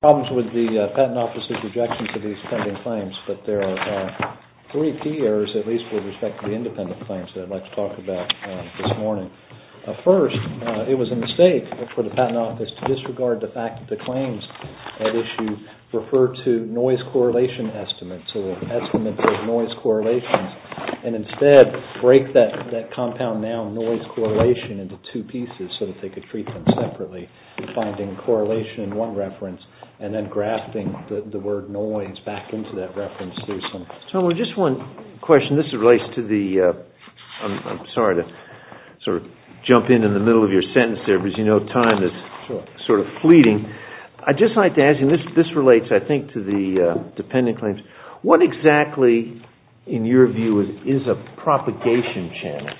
Problems with the Patent Office's rejection of these pending claims, but there are three key errors, at least with respect to the independent claims, that I'd like to talk about this morning. First, it was a mistake for the Patent Office to disregard the fact that the claims at issue refer to noise correlation estimates, or estimates of noise correlations, and instead break that compound noun, noise correlation, into two pieces so that they could treat them separately, finding correlation in one reference and then grafting the word noise back into that reference. I'm sorry to sort of jump in in the middle of your sentence there, but as you know, time is sort of fleeting. I'd just like to ask you, and this relates, I think, to the dependent claims, what exactly, in your view, is a propagation channel?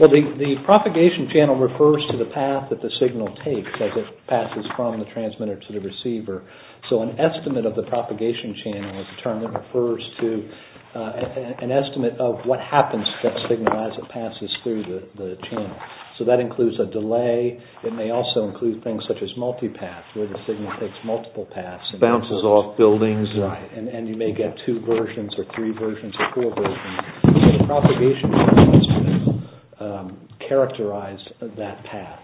Well, the propagation channel refers to the path that the signal takes as it passes from the transmitter to the receiver. So an estimate of the propagation channel is a term that refers to an estimate of what happens to that signal as it passes through the channel. So that includes a delay. It may also include things such as multipath, where the signal takes multiple paths. Bounces off buildings. Right, and you may get two versions or three versions or four versions. So the propagation channel is used to characterize that path.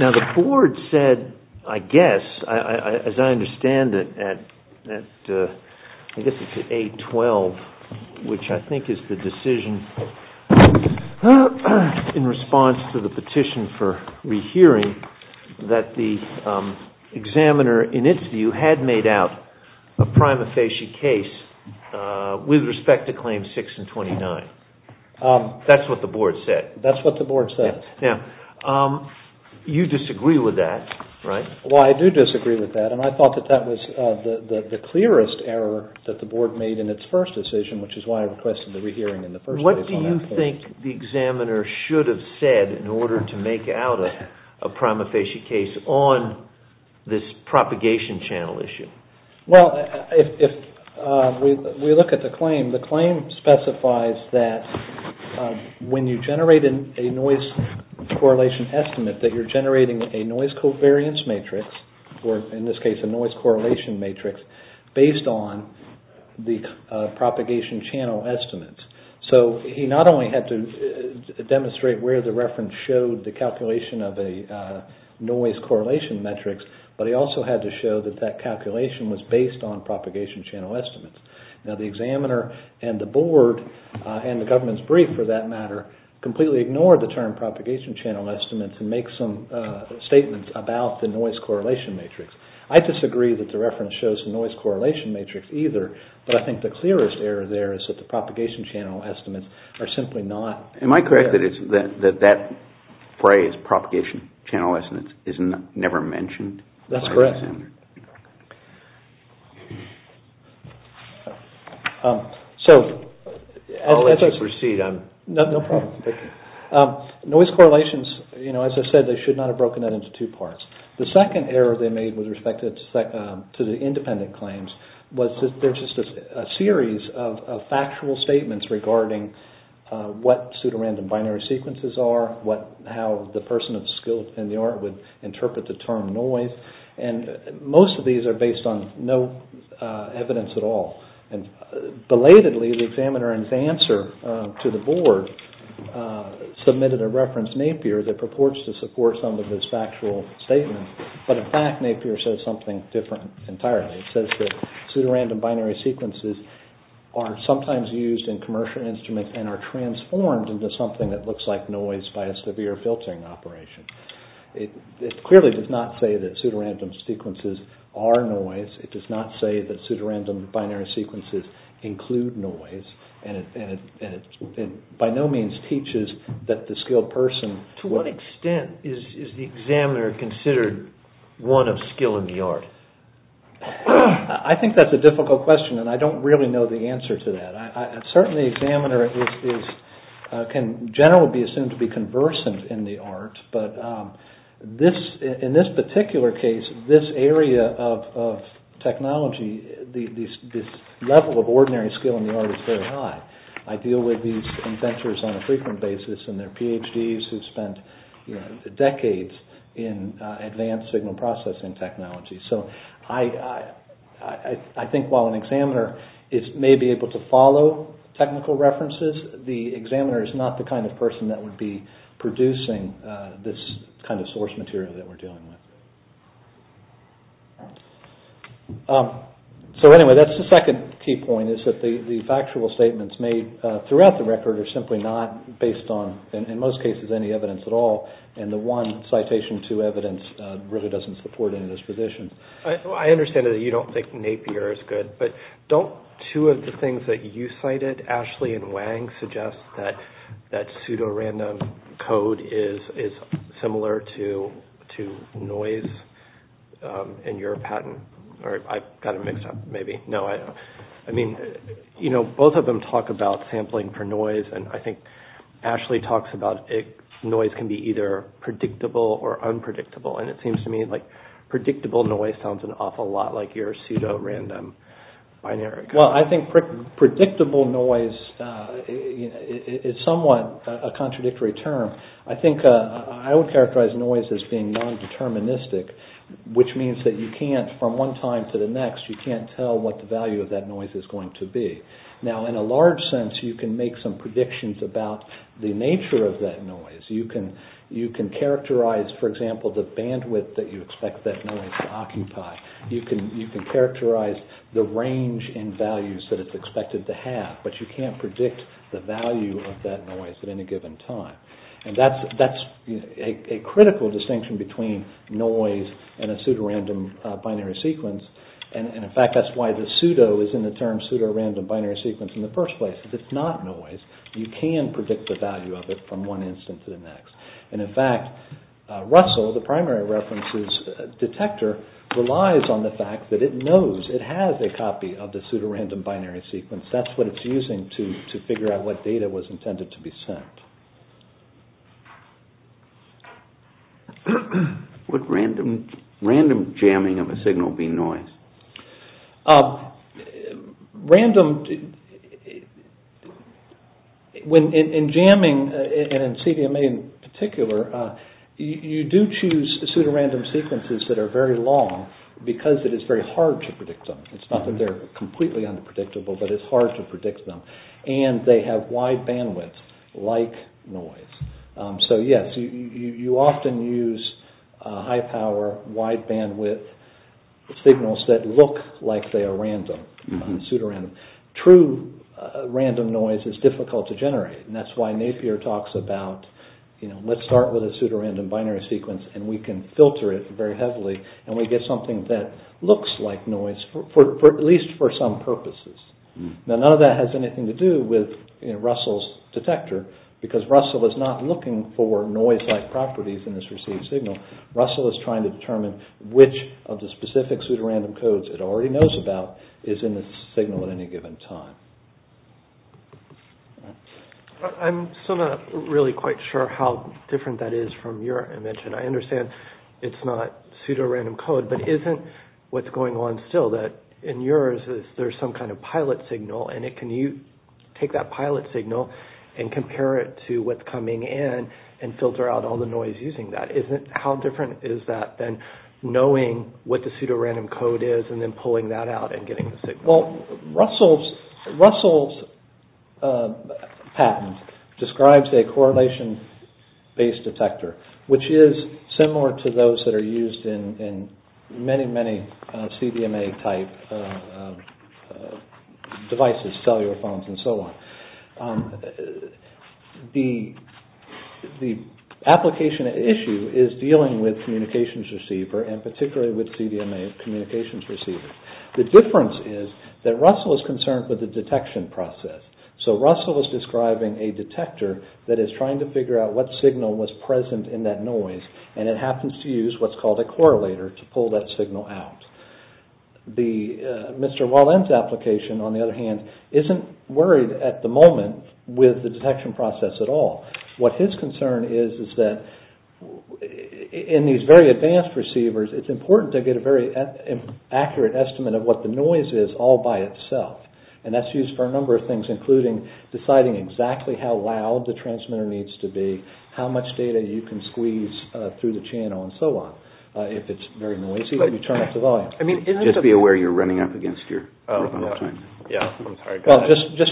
Now, the board said, I guess, as I understand it, at, I guess it's at 8-12, which I think is the decision in response to the petition for rehearing, that the examiner, in its view, had made out a prima facie case with respect to claims 6 and 29. That's what the board said. You disagree with that, right? Well, I do disagree with that, and I thought that that was the clearest error that the board made in its first decision, which is why I requested the rehearing in the first place. What do you think the examiner should have said in order to make out a prima facie case on this propagation channel issue? Well, if we look at the claim, the claim specifies that when you generate a noise correlation estimate, that you're generating a noise covariance matrix, or in this case, a noise correlation matrix, based on the propagation channel estimate. So he not only had to demonstrate where the reference showed the calculation of a noise correlation matrix, but he also had to show that that calculation was based on propagation channel estimates. Now, the examiner and the board, and the government's brief for that matter, completely ignored the term propagation channel estimates and make some statements about the noise correlation matrix. I disagree that the reference shows the noise correlation matrix either, but I think the clearest error there is that the propagation channel estimates are simply not there. Am I correct that that phrase, propagation channel estimates, is never mentioned by the examiner? That's correct. I'll let you proceed. No problem. Noise correlations, as I said, they should not have broken that into two parts. The second error they made with respect to the independent claims was that there's just a series of factual statements regarding what pseudorandom binary sequences are, how the person of skill in the art would interpret the term noise, and most of these are based on no evidence at all. Belatedly, the examiner in his answer to the board submitted a reference, Napier, that purports to support some of this factual statement, but in fact Napier says something different entirely. It says that pseudorandom binary sequences are sometimes used in commercial instruments and are transformed into something that looks like noise by a severe filtering operation. It clearly does not say that pseudorandom sequences are noise. It does not say that pseudorandom binary sequences include noise, and it by no means teaches that the skilled person... To what extent is the examiner considered one of skill in the art? I think that's a difficult question, and I don't really know the answer to that. Certainly the examiner can generally be assumed to be conversant in the art, but in this particular case, this area of technology, this level of ordinary skill in the art is very high. I deal with these inventors on a frequent basis, and they're PhDs who spent decades in advanced signal processing technology. So I think while an examiner may be able to follow technical references, the examiner is not the kind of person that would be producing this kind of source material that we're dealing with. So anyway, that's the second key point is that the factual statements made throughout the record are simply not based on, in most cases, any evidence at all, and the one citation to evidence really doesn't support any of this position. I understand that you don't think Napier is good, but don't two of the things that you cited, Ashley and Wang, suggest that pseudorandom code is similar to noise in your patent? I've got it mixed up, maybe. No, I mean, both of them talk about sampling for noise, and I think Ashley talks about noise can be either predictable or unpredictable, and it seems to me like predictable noise sounds an awful lot like your pseudorandom binary code. Well, I think predictable noise is somewhat a contradictory term. I think I would characterize noise as being non-deterministic, which means that you can't, from one time to the next, you can't tell what the value of that noise is going to be. Now, in a large sense, you can make some predictions about the nature of that noise. You can characterize, for example, the bandwidth that you expect that noise to occupy. You can characterize the range in values that it's expected to have, but you can't predict the value of that noise at any given time, and that's a critical distinction between noise and a pseudorandom binary sequence, and, in fact, that's why the pseudo is in the term pseudorandom binary sequence in the first place. If it's not noise, you can predict the value of it from one instant to the next, and, in fact, RUSLE, the primary references detector, relies on the fact that it knows, it has a copy of the pseudorandom binary sequence. That's what it's using to figure out what data was intended to be sent. Would random jamming of a signal be noise? Random... In jamming, and in CDMA in particular, you do choose pseudorandom sequences that are very long because it is very hard to predict them. It's not that they're completely unpredictable, but it's hard to predict them, and they have wide bandwidth, like noise. So, yes, you often use high power, wide bandwidth, signals that look like they are random, pseudorandom. True random noise is difficult to generate, and that's why Napier talks about, you know, let's start with a pseudorandom binary sequence, and we can filter it very heavily, and we get something that looks like noise, at least for some purposes. Now, none of that has anything to do with Russell's detector, because Russell is not looking for noise-like properties in this received signal. Russell is trying to determine which of the specific pseudorandom codes it already knows about is in the signal at any given time. I'm still not really quite sure how different that is from your image, and I understand it's not pseudorandom code, but isn't what's going on still that, in yours, there's some kind of pilot signal, and can you take that pilot signal and compare it to what's coming in and filter out all the noise using that? How different is that than knowing what the pseudorandom code is and then pulling that out and getting the signal? Well, Russell's patent describes a correlation-based detector, which is similar to those that are used in many, many CDMA-type devices, cellular phones, and so on. The application issue is dealing with communications receiver, and particularly with CDMA communications receiver. The difference is that Russell is concerned with the detection process. So Russell is describing a detector that is trying to figure out what signal was present in that noise, and it happens to use what's called a correlator to pull that signal out. Mr. Wallen's application, on the other hand, isn't worried at the moment with the detection process at all. What his concern is is that in these very advanced receivers, it's important to get a very accurate estimate of what the noise is all by itself. And that's used for a number of things, including deciding exactly how loud the transmitter needs to be, how much data you can squeeze through the channel, and so on. If it's very noisy, then you turn up the volume. Just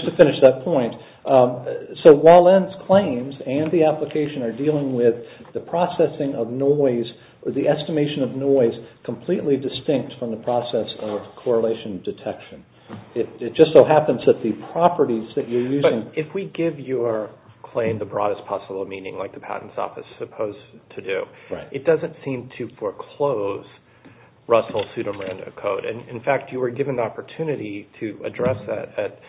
to finish that point, so Wallen's claims and the application are dealing with the processing of noise, or the estimation of noise, completely distinct from the process of correlation detection. It just so happens that the properties that you're using... But if we give your claim the broadest possible meaning, like the Patents Office is supposed to do, it doesn't seem to foreclose Russell's pseudomerendous code. In fact, you were given the opportunity to address that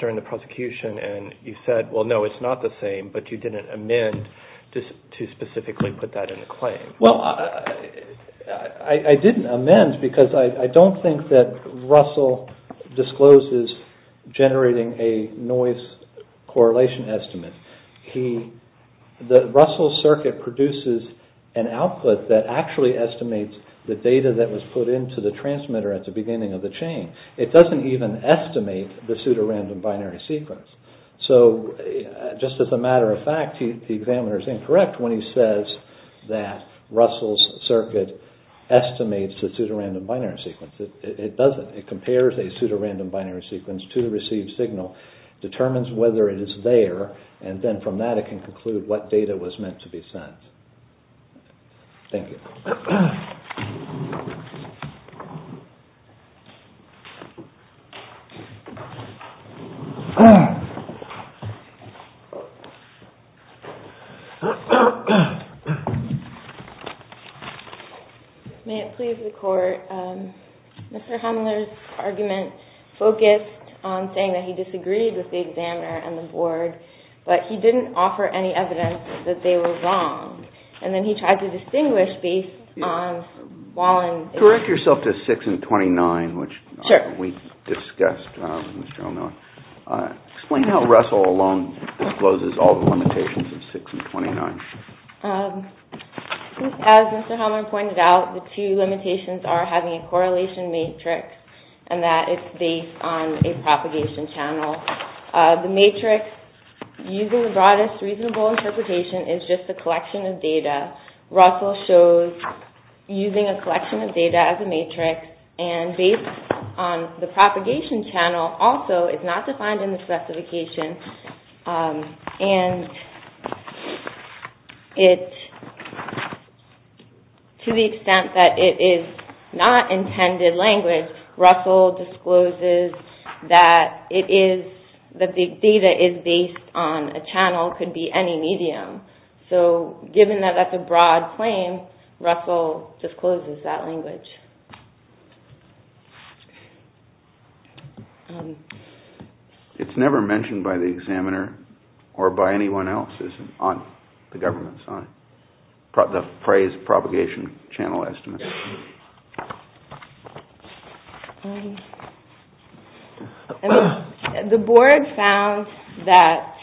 during the prosecution, and you said, well, no, it's not the same, but you didn't amend to specifically put that in the claim. Well, I didn't amend, because I don't think that Russell discloses generating a noise correlation estimate. Russell's circuit produces an output that actually estimates the data that was put into the transmitter at the beginning of the chain. It doesn't even estimate the pseudorandom binary sequence. Just as a matter of fact, the examiner is incorrect when he says that Russell's circuit estimates the pseudorandom binary sequence. It doesn't. It compares a pseudorandom binary sequence to the received signal, determines whether it is there, and then from that it can conclude what data was meant to be sent. Thank you. May it please the Court, Mr. Humler's argument focused on saying that he disagreed with the examiner and the board, but he didn't offer any evidence that they were wrong. Correct yourself to 6 and 29, which we discussed. Explain how Russell alone discloses all the limitations of 6 and 29. As Mr. Humler pointed out, the two limitations are having a correlation matrix and that it's based on a propagation channel. The matrix, using the broadest reasonable interpretation, is just a collection of data. Russell shows using a collection of data as a matrix and based on the propagation channel also is not defined in the specification. And to the extent that it is not intended language, Russell discloses that the data is based on a channel, could be any medium. So given that that's a broad claim, Russell discloses that language. It's never mentioned by the examiner or by anyone else on the government side, the phrase propagation channel estimate. The board found that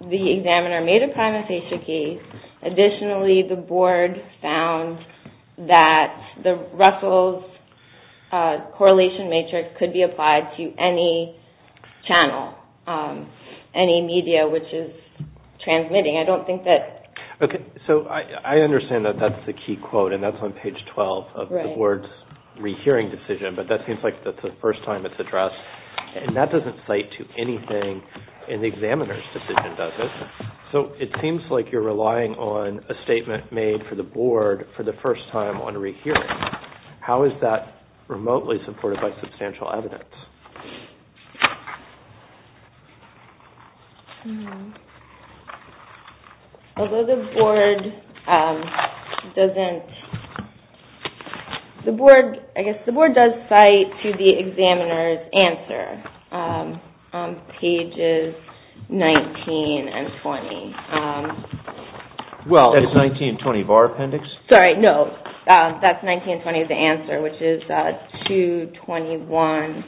the examiner made a primatization case. Additionally, the board found that the Russell's correlation matrix could be applied to any channel, any media which is transmitting. I understand that that's the key quote and that's on page 12 of the board's rehearing decision, but that seems like that's the first time it's addressed. And that doesn't cite to anything in the examiner's decision, does it? So it seems like you're relying on a statement made for the board for the first time on rehearing. How is that remotely supported by substantial evidence? Although the board doesn't... I guess the board does cite to the examiner's answer on pages 19 and 20. That's 19 and 20 of our appendix? Sorry, no. That's 19 and 20 of the answer, which is 221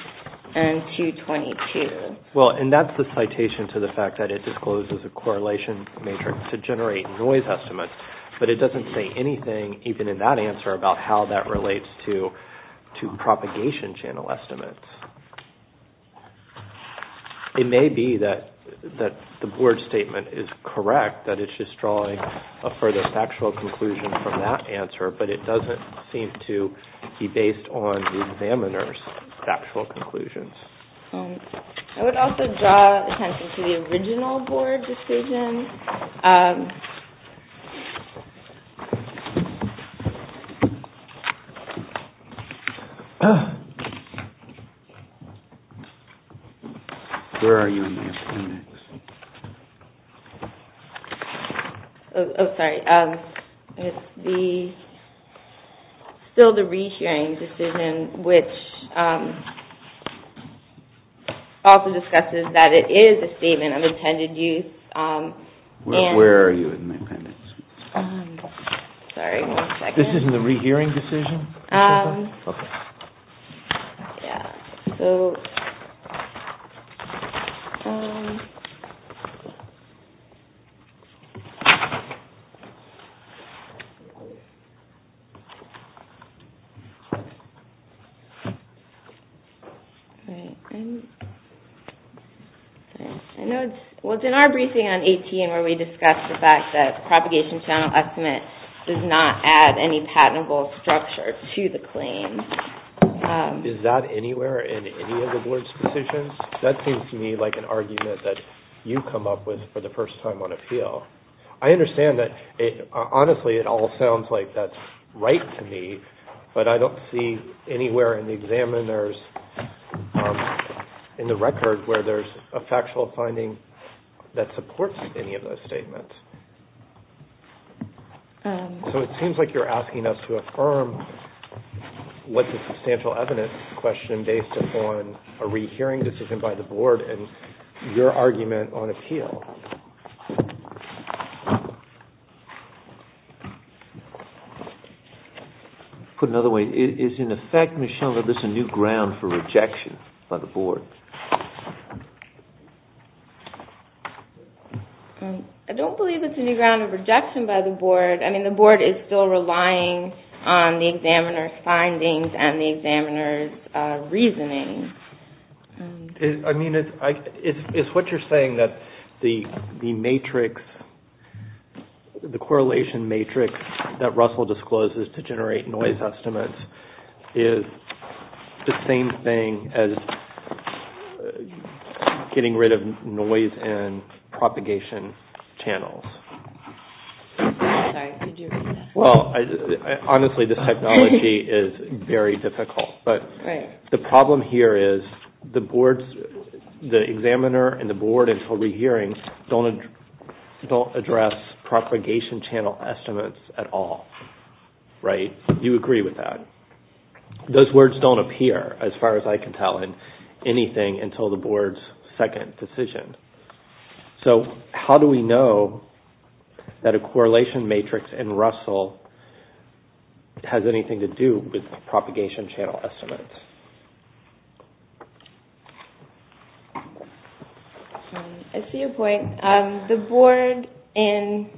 and 222. Well, and that's the citation to the fact that it discloses a correlation matrix to generate noise estimates, but it doesn't say anything, even in that answer, about how that relates to propagation channel estimates. It may be that the board statement is correct, that it's just drawing a further factual conclusion from that answer, but it doesn't seem to be based on the examiner's factual conclusions. I would also draw attention to the original board decision. Where are you in the appendix? Oh, sorry. It's still the re-hearing decision, which also discusses that it is a statement of intended use, Where are you in the appendix? This is the re-hearing decision? Well, it's in our briefing on 18 where we discussed the fact that Is that anywhere in any of the board's decisions? That seems to me like an argument that you come up with for the first time on appeal. I understand that, honestly, it all sounds like that's right to me, but I don't see anywhere in the examiner's, in the record, where there's a factual finding that supports any of those statements. So it seems like you're asking us to affirm what's a substantial evidence question based upon a re-hearing decision by the board and your argument on appeal. Put another way, is, in effect, Michelle, is this a new ground for rejection by the board? I don't believe it's a new ground of rejection by the board. I mean, the board is still relying on the examiner's findings and the examiner's reasoning. I mean, it's what you're saying, that the matrix, the correlation matrix that Russell discloses to generate noise estimates is the same thing as getting rid of noise in propagation channels. Well, honestly, this technology is very difficult, but the problem here is the board's, the examiner and the board until re-hearing don't address propagation channel estimates at all, right? You agree with that? Those words don't appear, as far as I can tell, in anything until the board's second decision. So how do we know that a correlation matrix in Russell has anything to do with propagation channel estimates? I see a point. The board and...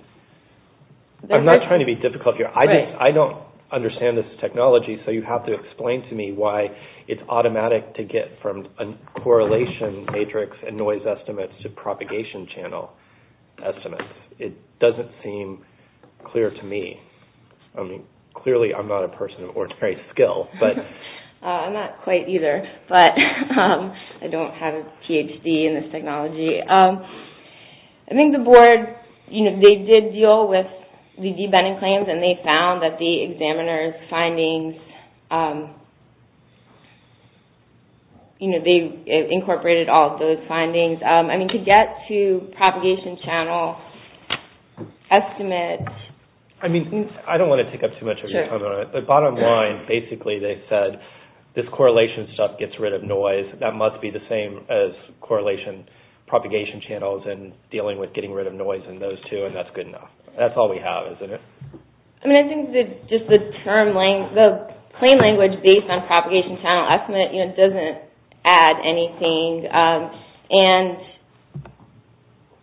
I'm not trying to be difficult here. I don't understand this technology, so you have to explain to me why it's automatic to get from a correlation matrix and noise estimates to propagation channel estimates. It doesn't seem clear to me. I mean, clearly I'm not a person of ordinary skill. I'm not quite either, but I don't have a Ph.D. in this technology. I think the board, you know, they did deal with the debenting claims and they found that the examiner's findings, you know, they incorporated all of those findings. I mean, to get to propagation channel estimates... I mean, I don't want to take up too much of your time on it, but bottom line, basically they said this correlation stuff gets rid of noise. That must be the same as correlation propagation channels and dealing with getting rid of noise in those two, and that's good enough. That's all we have, isn't it? I mean, I think just the plain language based on propagation channel estimates doesn't add anything, and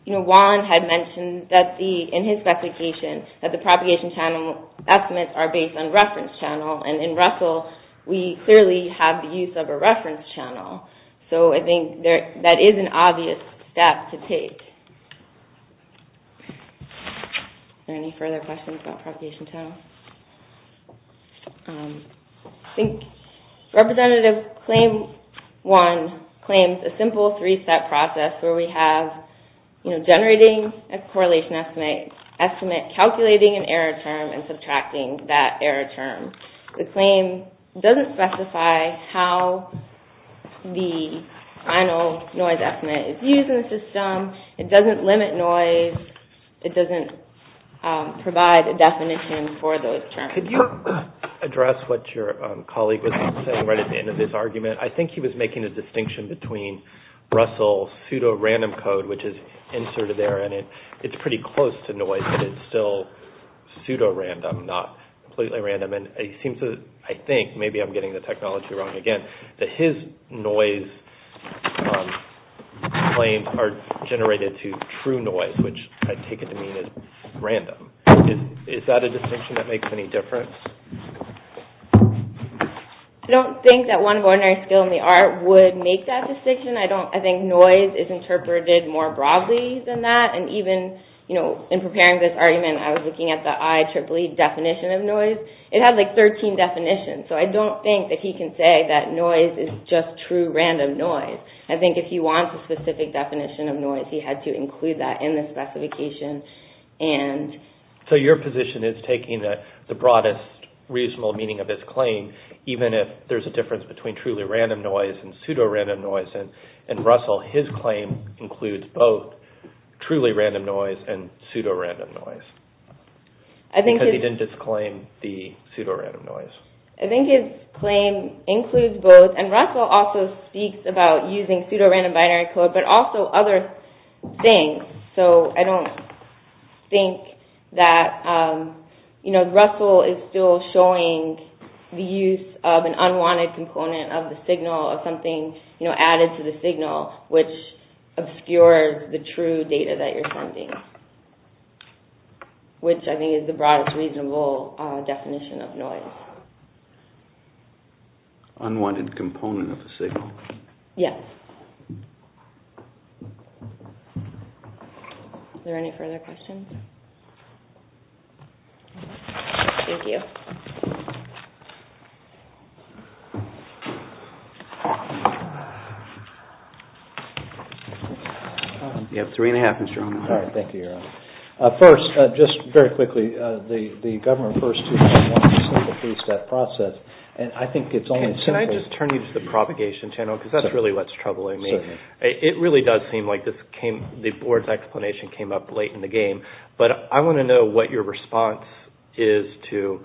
Juan had mentioned in his specification that the propagation channel estimates are based on reference channel, and in Russell we clearly have the use of a reference channel, so I think that is an obvious step to take. I think Representative Claim 1 claims a simple three-step process where we have generating a correlation estimate, calculating an error term, and subtracting that error term. The claim doesn't specify how the final noise estimate is used in the system. It doesn't limit noise. It doesn't provide a definition for those terms. Could you address what your colleague was saying right at the end of this argument? I think he was making a distinction between Russell's pseudo-random code, which is inserted there, and it's pretty close to noise, but it's still wrong. Again, his noise claims are generated to true noise, which I take it to mean is random. Is that a distinction that makes any difference? I don't think that one ordinary skill in the art would make that distinction. I think noise is interpreted more broadly than that, and even in preparing this argument I was looking at the IEEE definition of noise. It had like 13 definitions, so I don't think that he can say that noise is just true random noise. I think if he wants a specific definition of noise, he had to include that in the specification. So your position is taking the broadest reasonable meaning of this claim, even if there's a difference between truly random noise and pseudo-random noise, and Russell, his claim includes both truly random noise and pseudo-random noise. Because he didn't just claim the pseudo-random noise. I think his claim includes both, and Russell also speaks about using pseudo-random binary code, but also other things. So I don't think that Russell is still showing the use of an unwanted component of the signal, of something added to the signal, which obscures the true data that you're sending, which I think is the broadest reasonable definition of noise. Unwanted component of the signal. Are there any further questions? Thank you. You have three and a half minutes, Jerome. First, just very quickly, the government first process, and I think it's only... Can I just turn you to the propagation channel, because that's really what's troubling me. It really does seem like the board's explanation came up late in the game, but I want to know what your response is to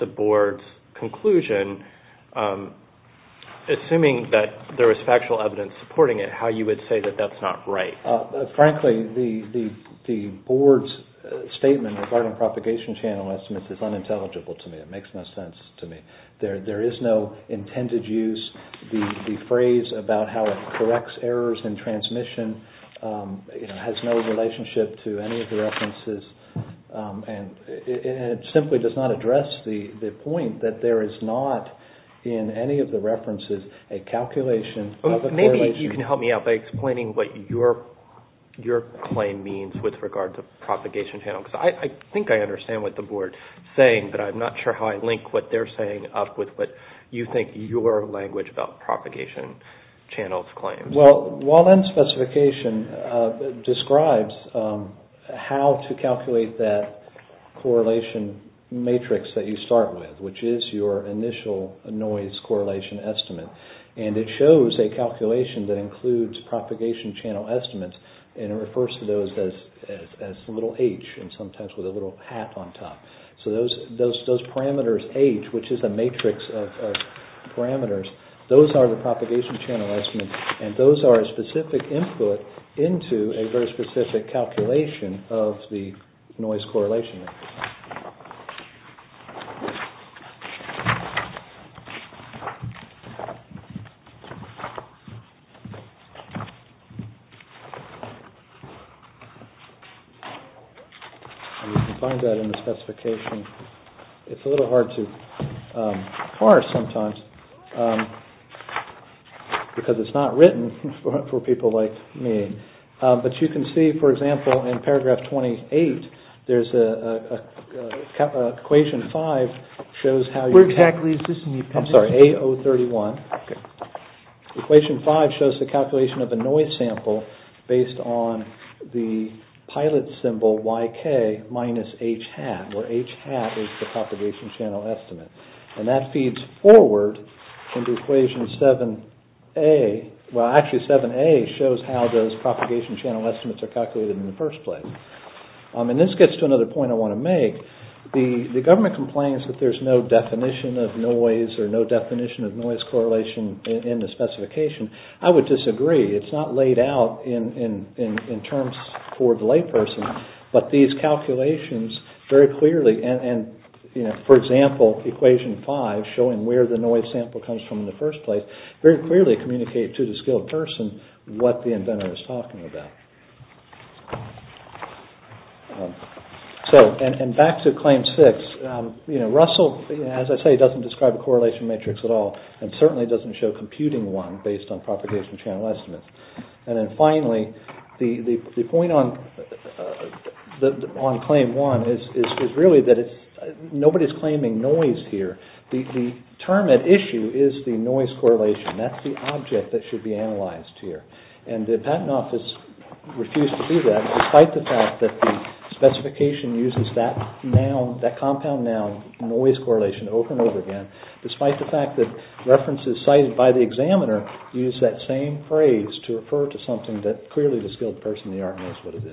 the board's conclusion, assuming that there was factual evidence supporting it, how you would say that that's not right. Frankly, the board's statement regarding propagation channel estimates is unintelligible to me. It makes no sense to me. There is no intended use. The phrase about how it corrects errors in transmission has no relationship to any of the references. And it simply does not address the point that there is not in any of the references a calculation... Maybe you can help me out by explaining what your claim means with regards to propagation channel. I think I understand what the board is saying, but I'm not sure how I link what they're saying up with what you think your language about propagation channels claims. Well, WALEN specification describes how to calculate that correlation matrix that you start with, which is your initial noise correlation estimate. And it shows a calculation that includes a little hat on top. So those parameters, H, which is a matrix of parameters, those are the propagation channel estimates, and those are a specific input into a very specific calculation of the noise correlation. You can find that in the specification. It's a little hard to parse sometimes because it's not written for people like me. But you can see, for example, in paragraph twenty-eight, there's equation five shows how... I'm sorry, A031. Equation five shows the calculation of YK minus H hat, where H hat is the propagation channel estimate. And that feeds forward into equation 7A. Well, actually 7A shows how those propagation channel estimates are calculated in the first place. And this gets to another point I want to make. The government complains that there's no definition of noise or no definition of noise correlation in the specification. I would disagree. It's not laid out in terms for the layperson, but these calculations very clearly, and for example, equation five showing where the noise sample comes from in the first place, very clearly communicate to the skilled person what the inventor is talking about. So, and back to claim six. You know, Russell, as I say, doesn't describe a correlation matrix at all and certainly doesn't show computing one based on propagation channel estimates. And then finally, the point on claim one is really that nobody's claiming noise here. The term at issue is the noise correlation. That's the object that should be analyzed here. And the patent office refused to do that despite the fact that the specification uses that compound noun, noise correlation, over and over again, despite the fact that references cited by the examiner use that same phrase to refer to something that clearly the skilled person in the art knows what it is. Thank you very much.